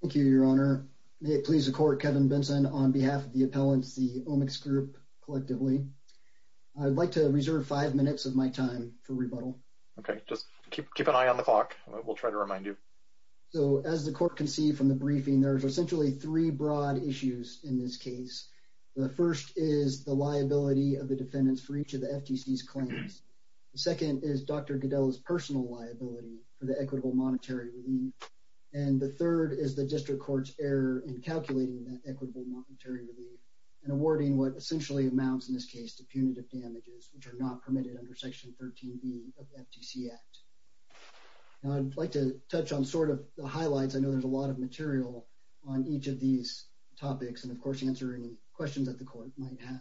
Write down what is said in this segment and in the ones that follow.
Thank you, Your Honor. May it please the Court, Kevin Benson, on behalf of the appellants, the OMICS Group, collectively. I'd like to reserve five minutes of my time for rebuttal. Okay, just keep an eye on the clock. We'll try to remind you. So, as the Court can see from the briefing, there's essentially three broad issues in this case. The first is the liability of the defendants for each of the FTC's claims. The second is Dr. Lee, and the third is the District Court's error in calculating that equitable monetary relief and awarding what essentially amounts, in this case, to punitive damages, which are not permitted under Section 13b of the FTC Act. Now, I'd like to touch on sort of the highlights. I know there's a lot of material on each of these topics and, of course, answering questions that the Court might have.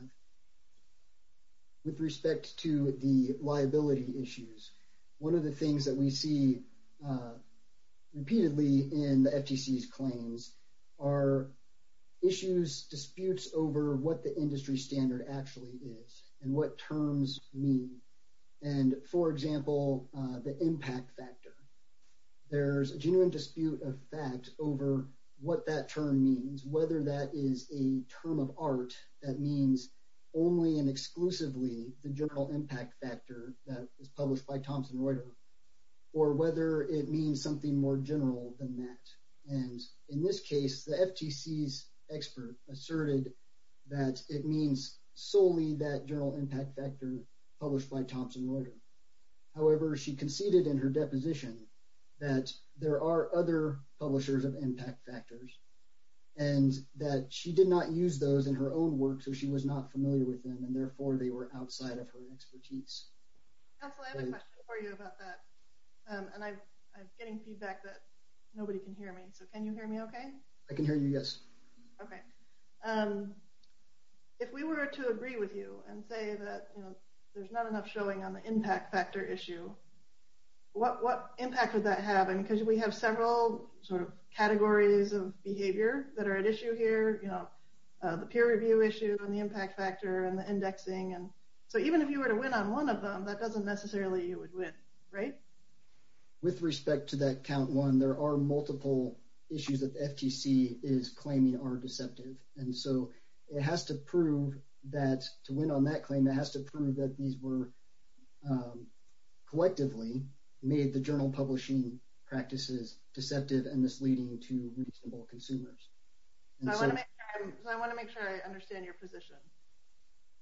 With respect to the liability issues, one of the things that we see repeatedly in the FTC's claims are issues, disputes over what the industry standard actually is and what terms mean. And, for example, the impact factor. There's a genuine dispute of fact over what that term means, whether that is a term of art that means only and exclusively the general impact factor that was published by Thomson Reuter, or whether it means something more general than that. And, in this case, the FTC's expert asserted that it means solely that general impact factor published by Thomson Reuter. However, she conceded in her deposition that there are other publishers of that she did not use those in her own work, so she was not familiar with them and, therefore, they were outside of her expertise. Counselor, I have a question for you about that, and I'm getting feedback that nobody can hear me, so can you hear me okay? I can hear you, yes. Okay. If we were to agree with you and say that, you know, there's not enough showing on the impact factor issue, what impact would that have? I mean, because we have several sort of categories of behavior that are at issue here, you know, the peer review issue, and the impact factor, and the indexing, and so even if you were to win on one of them, that doesn't necessarily mean you would win, right? With respect to that count one, there are multiple issues that the FTC is claiming are deceptive, and so it has to prove that to win on that claim, it has to prove that these were collectively made the journal publishing practices deceptive and misleading to reasonable consumers. I want to make sure I understand your position.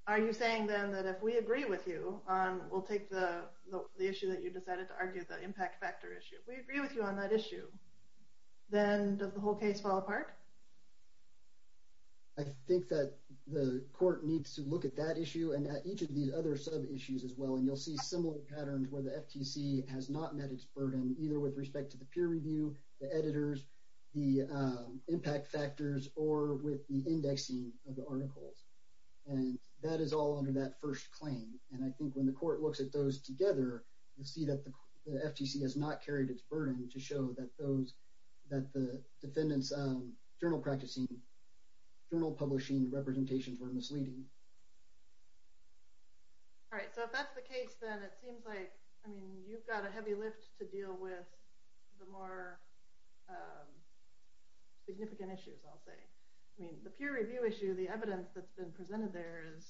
Are you saying, then, that if we agree with you, we'll take the issue that you decided to argue, the impact factor issue, we agree with you on that issue, then does the whole case fall apart? I think that the court needs to look at that issue, and at each of these other sub-issues as well, and you'll see similar patterns where the FTC has not met its burden, either with respect to the peer review, the editors, the impact factors, or with the indexing of the articles, and that is all under that first claim, and I think when the court looks at those together, you'll see that the FTC has not carried its burden to show that those, that the defendant's journal practicing, journal publishing representations were misleading. All right, so if that's the case, then it seems like, I mean, you've got a heavy lift to deal with the more significant issues, I'll say. I mean, the peer review issue, the evidence that's been presented there is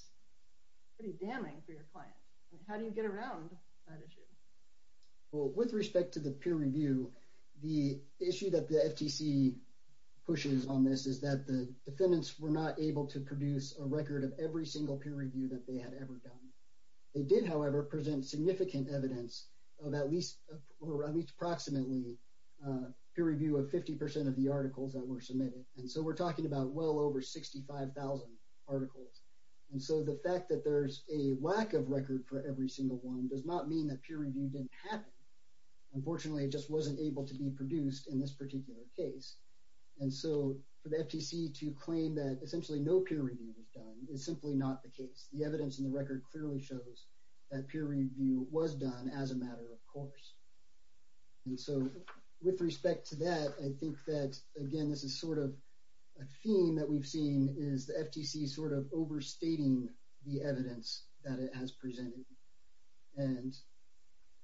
pretty damning for your client. How do you get around that issue? Well, with respect to the peer review, the issue that the FTC pushes on this is that the defendants were not able to produce a record of every single peer review that they had ever done. They did, however, present significant evidence of at least, or at least approximately, peer review of 50 percent of the articles that were submitted, and so we're talking about well over 65,000 articles, and so the fact that there's a lack of record for every single one does not mean that peer review didn't happen. Unfortunately, it just wasn't able to be produced in this essentially no peer review was done. It's simply not the case. The evidence in the record clearly shows that peer review was done as a matter of course, and so with respect to that, I think that again this is sort of a theme that we've seen is the FTC sort of overstating the evidence that it has presented, and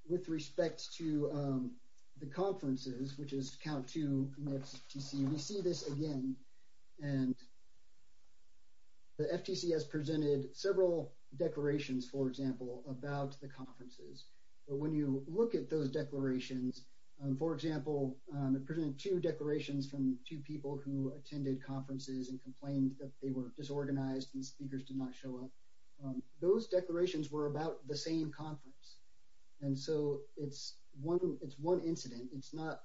with respect to the conferences, which is count two from the FTC, we see this again and the FTC has presented several declarations, for example, about the conferences, but when you look at those declarations, for example, it presented two declarations from two people who attended conferences and complained that they were disorganized and speakers did not show up. Those declarations were about the same conference, and so it's one incident. It's not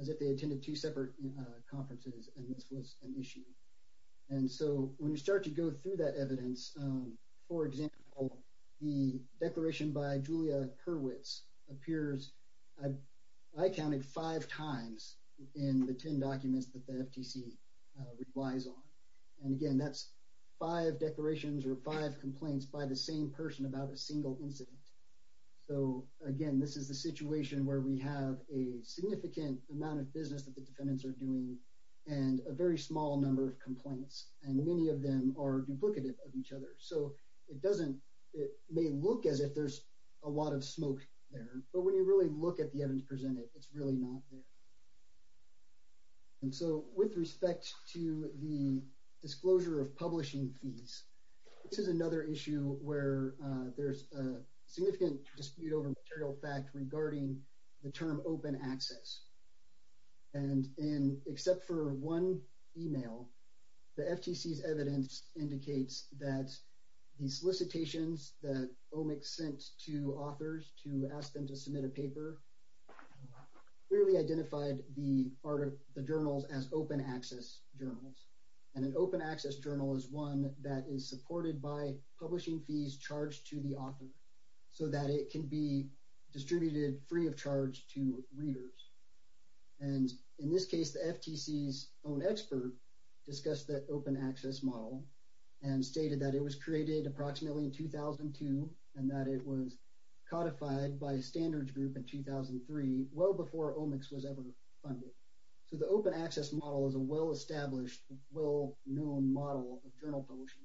as if they attended two separate conferences and this was an issue, and so when you start to go through that evidence, for example, the declaration by Julia Kerwitz appears, I counted five times in the 10 documents that the FTC relies on, and again that's five declarations or five complaints by the same person about a single incident, so again this is the situation where we have a business that the defendants are doing and a very small number of complaints, and many of them are duplicative of each other, so it doesn't, it may look as if there's a lot of smoke there, but when you really look at the evidence presented, it's really not. And so with respect to the disclosure of publishing fees, this is another issue where there's a significant dispute over material fact regarding the term open access, and in, except for one email, the FTC's evidence indicates that the solicitations that OMIC sent to authors to ask them to submit a paper clearly identified the part of the journals as open access journals, and an open access journal is one that is supported by publishing fees charged to the author so that it can be distributed free of charge to readers. And in this case, the FTC's own expert discussed the open access model and stated that it was created approximately in 2002 and that it was codified by a standards group in 2003, well before OMICS was ever funded. So the open access model is a well-established, well-known model of journal publishing.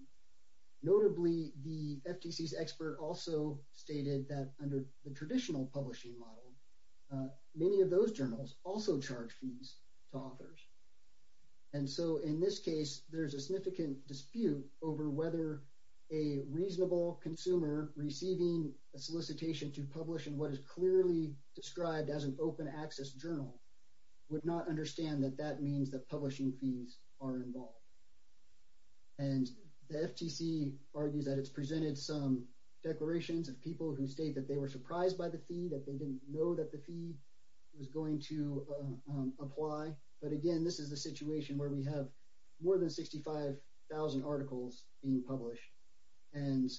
Notably, the FTC's expert also stated that under the traditional publishing model, many of those journals also charge fees to authors. And so in this case, there's a significant dispute over whether a reasonable consumer receiving a solicitation to publish in what is clearly described as an open access journal would not understand that that means that publishing fees are involved. And the FTC argues that it's presented some declarations of people who state that they were surprised by the fee, that they didn't know that the fee was going to apply. But again, this is a situation where we have more than 65,000 articles being published. And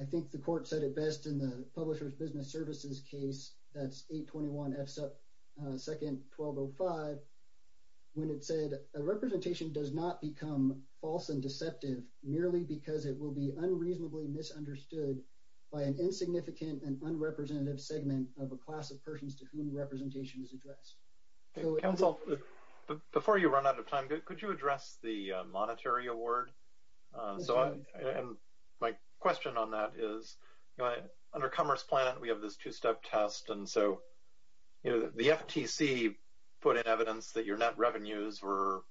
I think the court said it best in the Publishers Business Services case, that's 821 F2-1205, when it said, a representation does not become false and deceptive merely because it will be an unrepresentative segment of a class of persons to whom the representation is addressed. Council, before you run out of time, could you address the monetary award? And my question on that is, under Commerce Planet, we have this two-step test. And so the FTC put in evidence that your net revenues were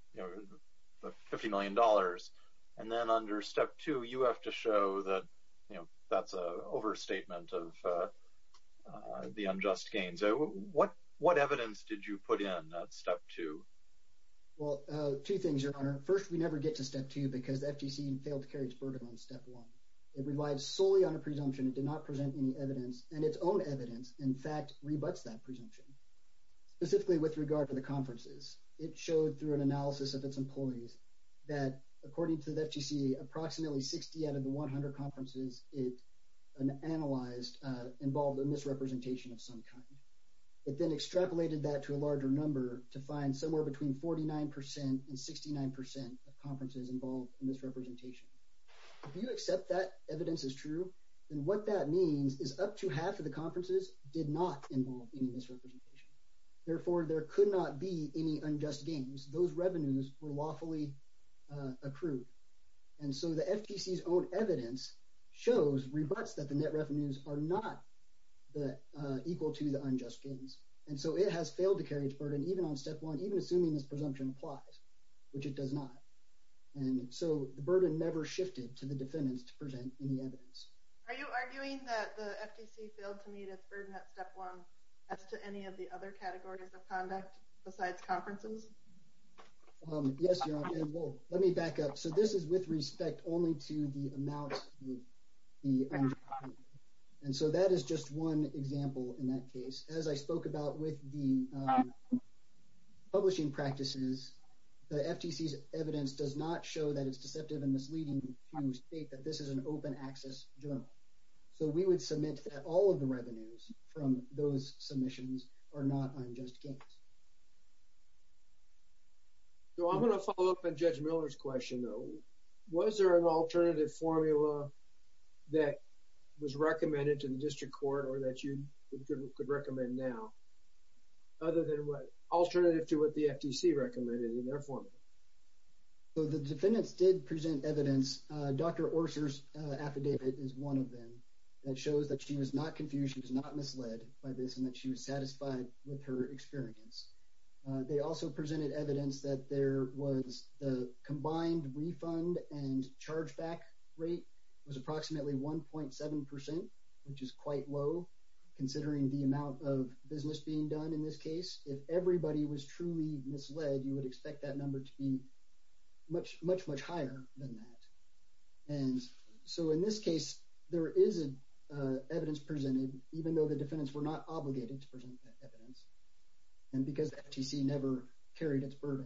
$50 million. And then under step two, you have to show that that's an overstatement of the unjust gains. What evidence did you put in at step two? Well, two things, Your Honor. First, we never get to step two because the FTC failed to carry its burden on step one. It relies solely on a presumption, it did not present any evidence, and its own evidence, in fact, rebuts that presumption. Specifically with regard to the conferences, it showed through an analysis of its employees, that according to the FTC, approximately 60 out of the 100 conferences it analyzed involved a misrepresentation of some kind. It then extrapolated that to a larger number to find somewhere between 49% and 69% of conferences involved in misrepresentation. If you accept that evidence is true, then what that means is up to half of the conferences did not involve any misrepresentation. Therefore, there could not be any unjust gains. Those revenues were lawfully accrued. And so the FTC's own evidence shows, rebuts that the net revenues are not equal to the unjust gains. And so it has failed to carry its burden, even on step one, even assuming this presumption applies, which it does not. And so the burden never shifted to the defendants to present any evidence. Are you arguing that the FTC failed to meet its burden at step one as to any of the other categories of conduct besides conferences? Yes, let me back up. So this is with respect only to the amounts. And so that is just one example. In that case, as I spoke about with the publishing practices, the FTC's evidence does not show that it's deceptive and misleading to state that this is an open access journal. So we would submit that all of the revenues from those submissions are not unjust gains. So I'm going to follow up on Judge Miller's question, though. Was there an alternative formula that was recommended to the district court or that you could recommend now, other than what alternative to what the FTC recommended in their formula? So the defendants did present evidence. Dr. Orser's affidavit is one of them that shows she was not confused. She was not misled by this and that she was satisfied with her experience. They also presented evidence that there was the combined refund and chargeback rate was approximately 1.7 percent, which is quite low considering the amount of business being done in this case. If everybody was truly misled, you would expect that number to be much, much, higher than that. And so in this case, there is evidence presented, even though the defendants were not obligated to present evidence and because the FTC never carried its burden.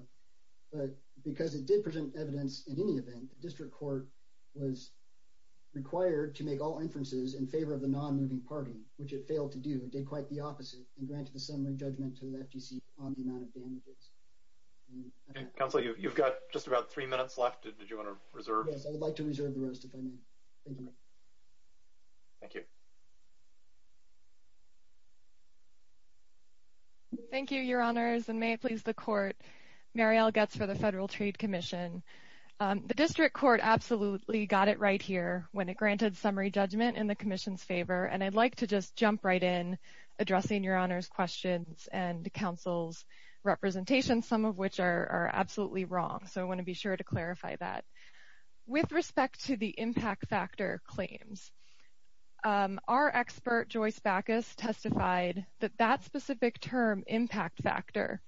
But because it did present evidence in any event, the district court was required to make all inferences in favor of the non-moving party, which it failed to do and did quite the opposite and granted a similar judgment to the FTC on the amount of damages. Okay, counsel, you've got just about three minutes left. Did you want to reserve? Yes, I would like to reserve the rest of my time. Thank you. Thank you, your honors, and may it please the court. Mariel Goetz for the Federal Trade Commission. The district court absolutely got it right here when it granted summary judgment in the commission's favor, and I'd like to just jump right in addressing your honors questions and counsel's representation, some of which are absolutely wrong, so I want to be sure to clarify that. With respect to the impact factor claims, our expert, Joyce Backus, testified that that specific term, impact factor,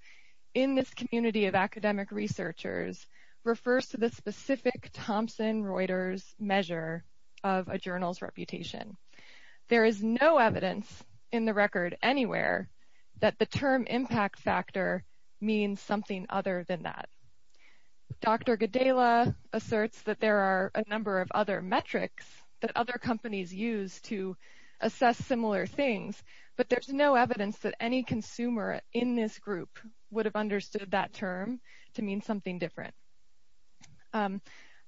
in this community of academic researchers refers to the specific Thompson Reuters measure of a journal's reputation. There is no evidence in the record anywhere that the term impact factor means something other than that. Dr. Gedela asserts that there are a number of other metrics that other companies use to assess similar things, but there's no evidence that any consumer in this group would have understood that term to mean something different.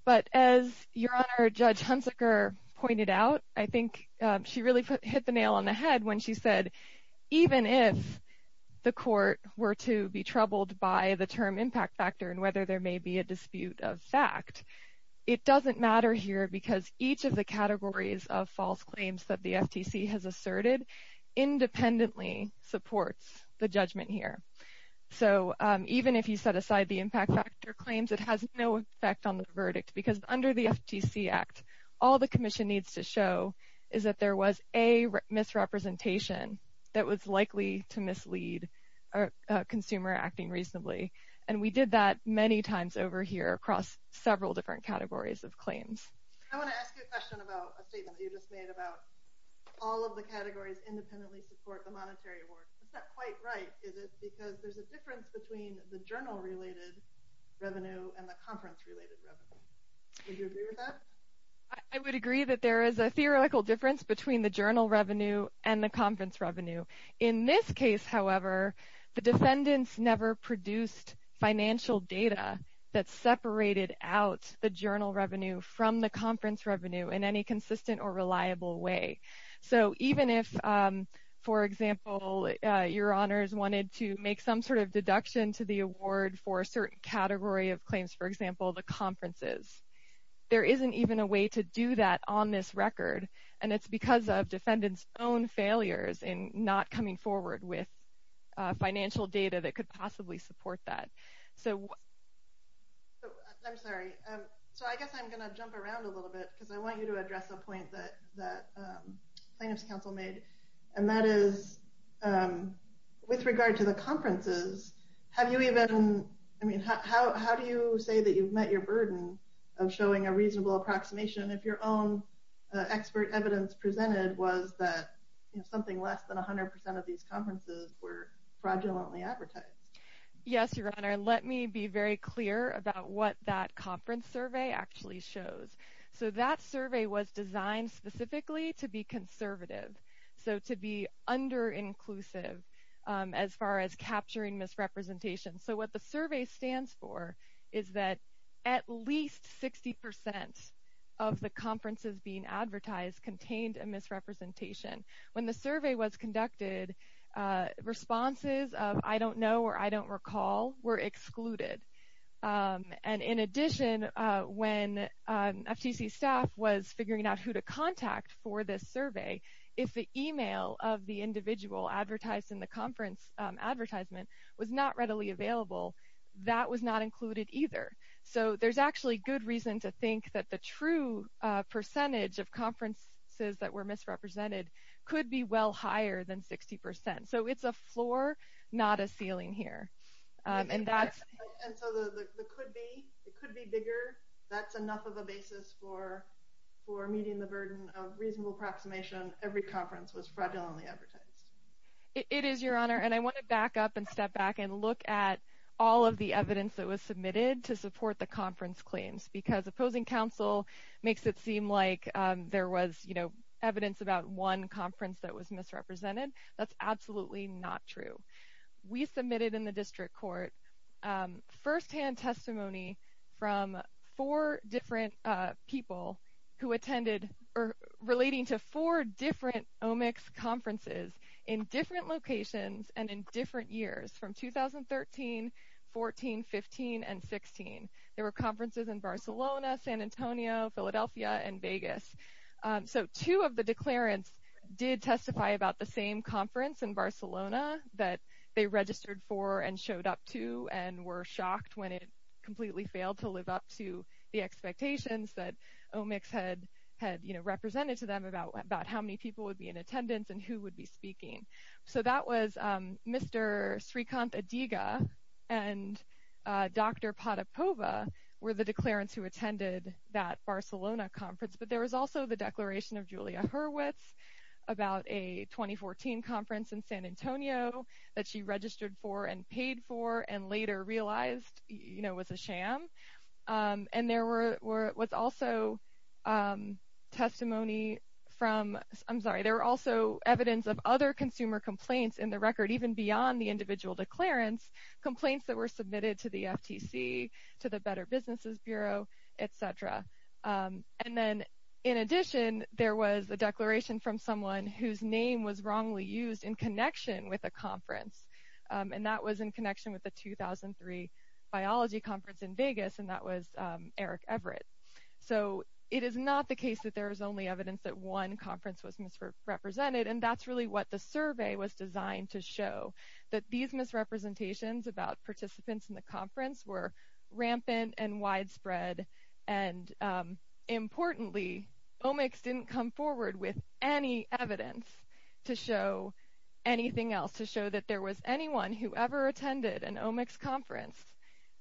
But as your honor, Judge Hunziker pointed out, I think she really hit the nail on the head when she said, even if the court were to be troubled by the term impact factor and whether there may be a dispute of fact, it doesn't matter here because each of the categories of false claims that the FTC has asserted independently supports the judgment here. So even if you set aside the impact factor claims, it has no effect on the verdict because under the FTC Act, all the representation that was likely to mislead a consumer acting reasonably, and we did that many times over here across several different categories of claims. I want to ask you a question about a statement you just made about all of the categories independently support the monetary award. Is that quite right? Is it because there's a difference between the journal-related revenue and the conference-related revenue? Would you agree with that? I would agree that there is a theoretical difference between the journal revenue and the conference revenue. In this case, however, the defendants never produced financial data that separated out the journal revenue from the conference revenue in any consistent or reliable way. So even if, for example, your honors wanted to make some sort of deduction to the award for a certain category of claims, for example, the conferences, there isn't even a way to do that on this record, and it's because of defendants' own failures in not coming forward with financial data that could possibly support that. I'm sorry. So I guess I'm going to jump around a little bit because I want you to address a point that plaintiffs' counsel made, and that is with regard to the conferences, have you even, I mean, how do you say that you've met your burden of showing a reasonable approximation if your own expert evidence presented was that something less than 100% of these conferences were fraudulently advertised? Yes, your honor. Let me be very clear about what that conference survey actually shows. So that survey was designed specifically to be conservative, so to be under-inclusive as far as capturing misrepresentation. So what the survey stands for is that at least 60% of the conferences being advertised contained a misrepresentation. When the survey was conducted, responses of I don't know or I don't recall were excluded, and in addition, when FTC staff was figuring out who to contact for this survey, if the email of the individual advertised in the conference advertisement was not readily available, that was not included either. So there's actually good reason to think that the true percentage of conferences that were misrepresented could be well higher than 60%. So it's a floor, not a ceiling here. And so it could be bigger. That's enough of a basis for meeting the burden of reasonable approximation. Every conference was fraudulently advertised. It is, your honor, and I want to back up and step back and look at all of the evidence that was submitted to support the conference claims because opposing counsel makes it seem like there was, you know, evidence about one conference that was misrepresented. That's absolutely not true. We submitted in the district court firsthand testimony from four different people who attended or relating to four different OMICS conferences in different locations and in different years from 2013, 14, 15, and 16. There were conferences in Barcelona, San Antonio, Philadelphia, and Vegas. So two of the declarants did testify about the same conference in Barcelona that they registered for and showed up to and were shocked when it completely failed to live up to the expectations that OMICS had, you know, represented to them about how many people would be in attendance and who would be speaking. So that was Mr. Srikanth Adiga and Dr. Padapova were the declarants who attended that Barcelona conference, but there was also the declaration of Julia Hurwitz about a 2014 conference in San Antonio that she registered for and paid for and later realized, you know, was a sham. And there were was also testimony from, I'm sorry, there were also evidence of other consumer complaints in the record even beyond the individual declarants, complaints that were submitted to the FTC, to the Better Businesses Bureau, etc. And then in addition, there was a declaration from someone whose name was wrongly used in connection with a conference, and that was in connection with the 2003 biology conference in Vegas, and that was Eric Everett. So it is not the case that there is only evidence that one conference was misrepresented, and that's really what the survey was designed to show, that these misrepresentations about participants in the rampant and widespread, and importantly, omics didn't come forward with any evidence to show anything else, to show that there was anyone who ever attended an omics conference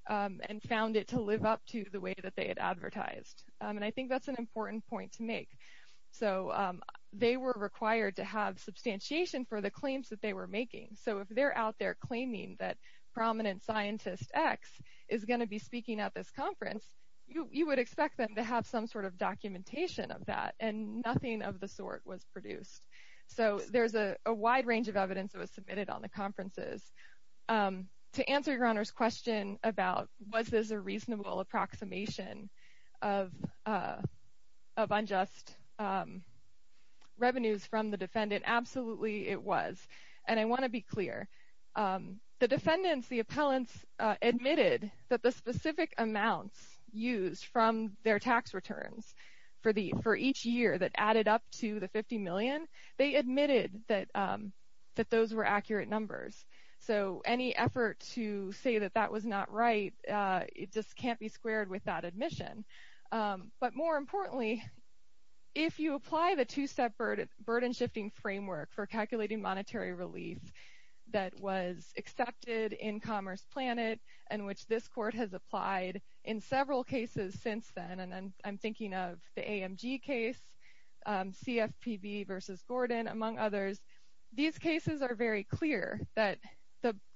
and found it to live up to the way that they had advertised. And I think that's an important point to make. So they were required to have substantiation for the claims that they were to be speaking at this conference. You would expect them to have some sort of documentation of that, and nothing of the sort was produced. So there's a wide range of evidence that was submitted on the conferences. To answer your Honor's question about was this a reasonable approximation of unjust revenues from the defendant, absolutely it was. And I want to be specific amounts used from their tax returns for each year that added up to the 50 million, they admitted that those were accurate numbers. So any effort to say that that was not right, it just can't be squared with that admission. But more importantly, if you apply the two-step burden-shifting framework for calculating monetary relief that was accepted in Commerce Planet, and which this court has applied in several cases since then, and I'm thinking of the AMG case, CFPB versus Gordon, among others, these cases are very clear that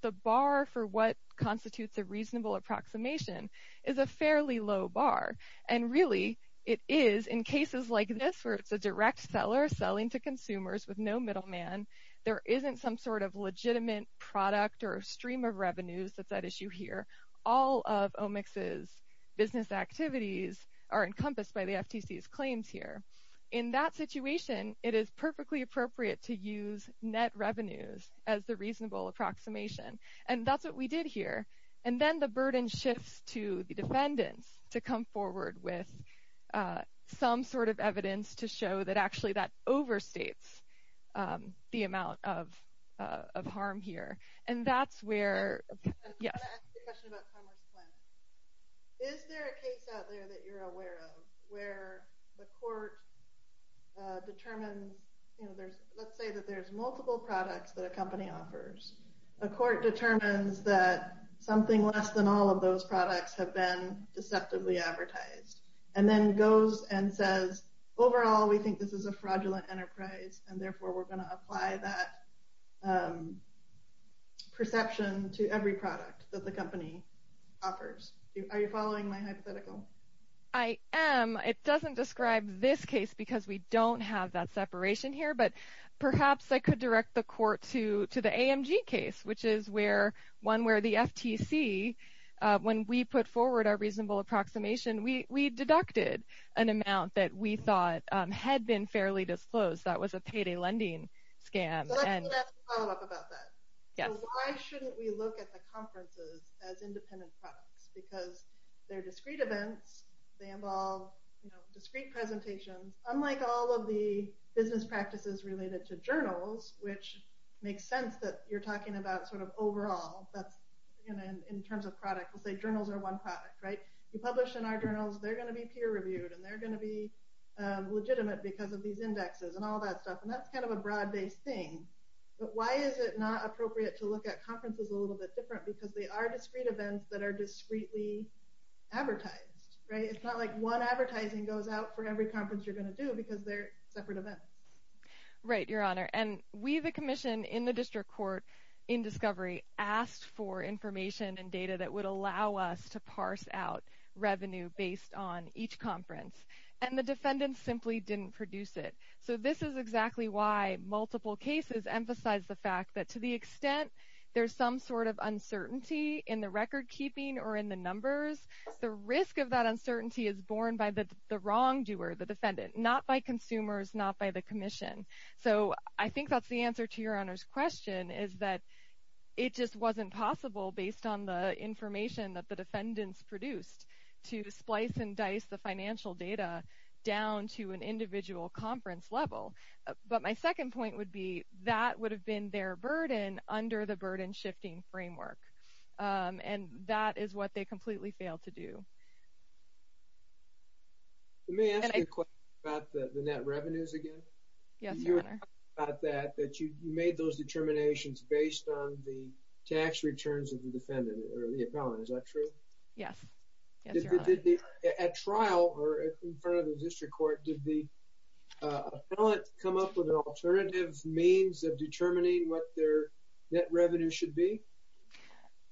the bar for what constitutes a reasonable approximation is a fairly low bar. And really, it is in cases like this, where it's a direct seller selling to consumers with no middleman, there isn't some sort of all of OMIX's business activities are encompassed by the FTC's claims here. In that situation, it is perfectly appropriate to use net revenues as the reasonable approximation. And that's what we did here. And then the burden shifts to the defendants to come forward with some sort of evidence to show that actually that overstates the amount of harm here. And that's where... I want to ask you a question about Commerce Planet. Is there a case out there that you're aware of where the court determined, let's say that there's multiple products that a company offers, a court determines that something less than all of those products have been deceptively advertised, and then goes and says, overall, we think this is a fraudulent enterprise, and therefore we're going to apply that perception to every product that the company offers. Are you following my hypothetical? I am. It doesn't describe this case because we don't have that separation here. But perhaps I could direct the court to the AMG case, which is one where the FTC, when we put forward our reasonable approximation, we deducted an amount that we thought had been fairly disclosed. That was a payday lending scam. So let's ask a follow-up about that. Yes. Why shouldn't we look at the conferences as independent products? Because they're discrete events, they involve discrete presentations, unlike all of the business practices related to journals, which makes sense that you're talking about sort of overall, that's in terms of product. We'll say journals are one product, right? You publish in our journals, they're going be peer-reviewed, and they're going to be legitimate because of these indexes and all that stuff. And that's kind of a broad-based thing. But why is it not appropriate to look at conferences a little bit different? Because they are discrete events that are discreetly advertised, right? It's not like one advertising goes out for every conference you're going to do because they're separate events. Right, Your Honor. And we, the commission in the district court in discovery, asked for each conference, and the defendants simply didn't produce it. So this is exactly why multiple cases emphasize the fact that to the extent there's some sort of uncertainty in the record-keeping or in the numbers, the risk of that uncertainty is borne by the wrongdoer, the defendant, not by consumers, not by the commission. So I think that's the answer to Your Honor's question, is that it just wasn't possible based on the information that the financial data down to an individual conference level. But my second point would be that would have been their burden under the burden-shifting framework. And that is what they completely failed to do. Let me ask you a question about the net revenues again. Yes, Your Honor. About that, that you made those determinations based on the tax returns of the defendant or in front of the district court, did the appellant come up with an alternative means of determining what their net revenue should be?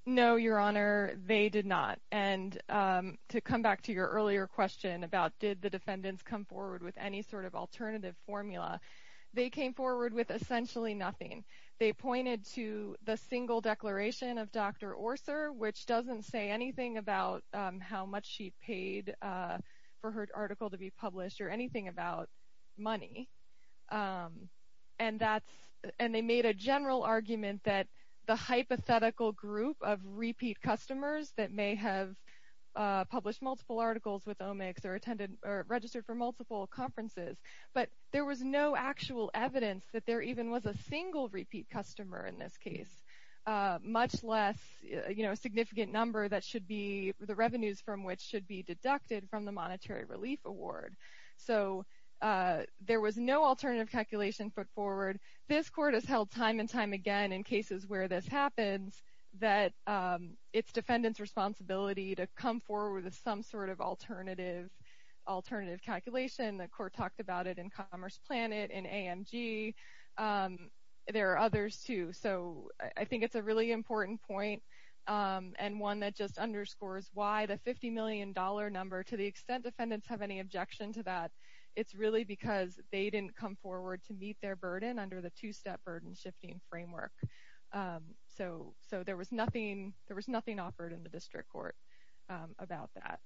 No, Your Honor, they did not. And to come back to your earlier question about did the defendants come forward with any sort of alternative formula, they came forward with essentially nothing. They pointed to the single declaration of Dr. Orser, which doesn't say anything about how much she paid for her article to be published or anything about money. And they made a general argument that the hypothetical group of repeat customers that may have published multiple articles with OMICS or registered for multiple conferences, but there was no actual evidence that there even was a single repeat customer in this case, much less, you know, a significant number that should be, the revenues from which should be deducted from the monetary relief award. So there was no alternative calculation put forward. This court has held time and time again in cases where this happens that it's defendant's responsibility to come forward with some sort of alternative calculation. The court talked about it in Commerce Planet, in AMG. There are others too. So I think it's a really important point and one that just underscores why the $50 million number, to the extent defendants have any objection to that, it's really because they didn't come forward to meet their burden under the two step burden shifting framework. So there was nothing offered in the district court about that.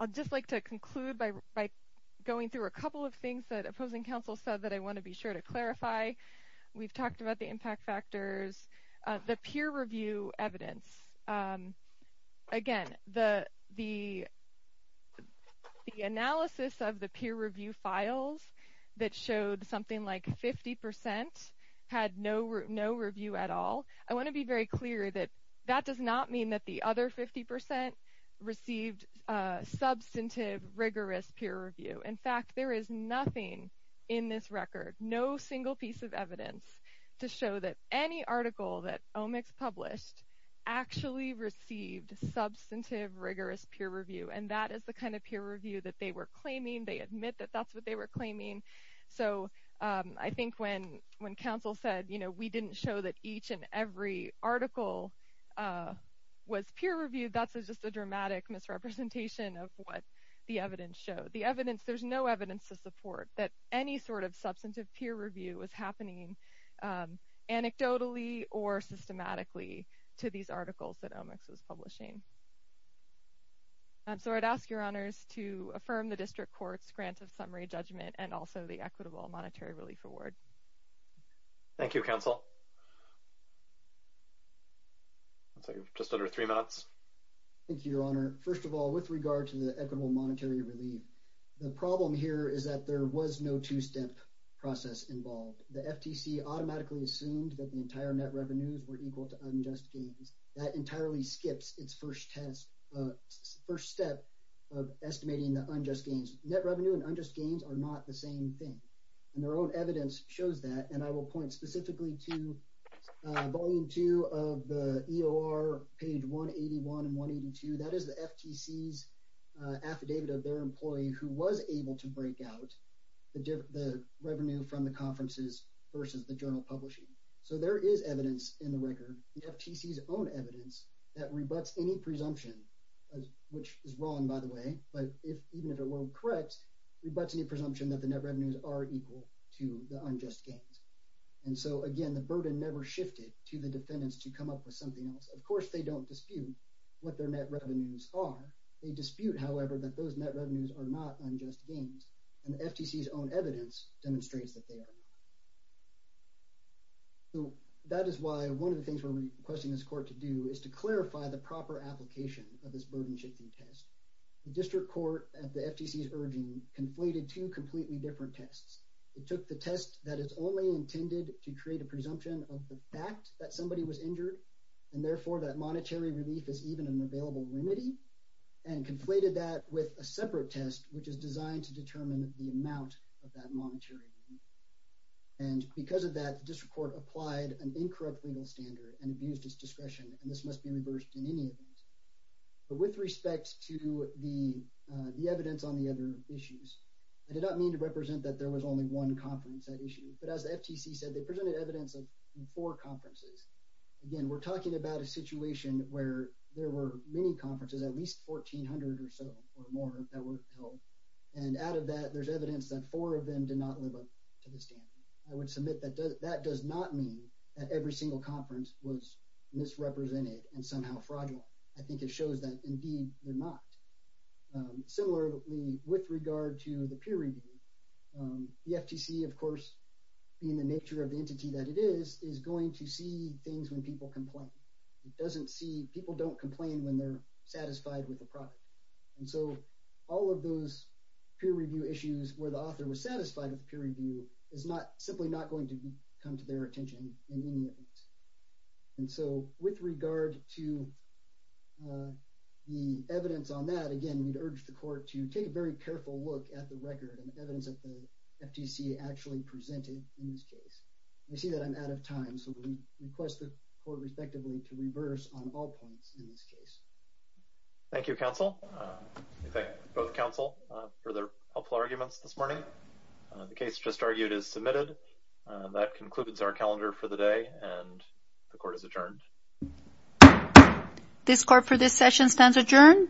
I'd just like to conclude by going through a couple of things that opposing counsel said that I want to be sure to clarify. We've talked about the impact factors, the peer review evidence. Again, the analysis of the peer review files that showed something like 50% had no review at all. I want to be very clear that that does not mean that the other 50% received substantive, rigorous peer review. In fact, there is nothing in this record, no single piece of evidence to show that any article that OMIX published actually received substantive, rigorous peer review. And that is the kind of peer review that they were claiming. They admit that that's what they were claiming. So I think when counsel said, you know, we didn't show that each and every article was peer reviewed, that's just a dramatic misrepresentation of what the evidence showed. There's no evidence to support that any sort of substantive peer review was happening anecdotally or systematically to these articles that OMIX was publishing. So I'd ask your honors to affirm the district court's grant of summary judgment and also the equitable monetary relief award. Thank you, counsel. Looks like we're just under three minutes. Thank you, your honor. First of all, with regard to the equitable monetary relief, the problem here is that there was no two-step process involved. The FTC automatically assumed that the entire net revenues were equal to unjust gains. That entirely skips its first test, first step of estimating the unjust gains. Net revenue and unjust gains are not the same thing. And their own evidence shows that. And I will point specifically to volume two of the EOR page 181 and 182. That is the FTC's affidavit of their employee who was able to break out the revenue from the conferences versus the journal publishing. So there is in the record the FTC's own evidence that rebutts any presumption, which is wrong by the way, but even if it were correct, rebutts any presumption that the net revenues are equal to the unjust gains. And so again, the burden never shifted to the defendants to come up with something else. Of course, they don't dispute what their net revenues are. They dispute, however, that those net revenues are not unjust gains. And FTC's own evidence demonstrates that they are. So that is why one of the things we're requesting this court to do is to clarify the proper application of this burden shifting test. The district court at the FTC's urging conflated two completely different tests. It took the test that is only intended to create a presumption of the fact that somebody was injured and therefore that monetary relief is even an available remedy and conflated that with a separate test, which is designed to determine the amount of that monetary relief. And because of that, the district court applied an incorrect legal standard and abused its discretion, and this must be reversed in any event. But with respect to the evidence on the other issues, I did not mean to represent that there was only one conference that issued, but as the FTC said, they presented evidence of four conferences. Again, we're talking about a situation where there were many conferences, at least 1,400 or so or more that were held. And out of that, there's evidence that four of them did not live up to the standard. I would submit that that does not mean that every single conference was misrepresented and somehow fraudulent. I think it shows that indeed they're not. Similarly, with regard to the peer review, the FTC, of course, in the nature of the entity that it is, is going to see things when people complain. It doesn't see, people don't complain when they're satisfied with the product. And so all of those peer review issues where the author was satisfied with peer review is simply not going to come to their attention in any event. And so with regard to the evidence on that, again, we'd urge the court to take a very careful look at the record and evidence that the FTC actually presented in this case. I see that I'm out of time, so we request the court respectively to reverse on all points in this case. Thank you, counsel. We thank both counsel for their helpful arguments this morning. The case just argued is submitted. That concludes our calendar for the day and the court is adjourned. This court for this session stands adjourned.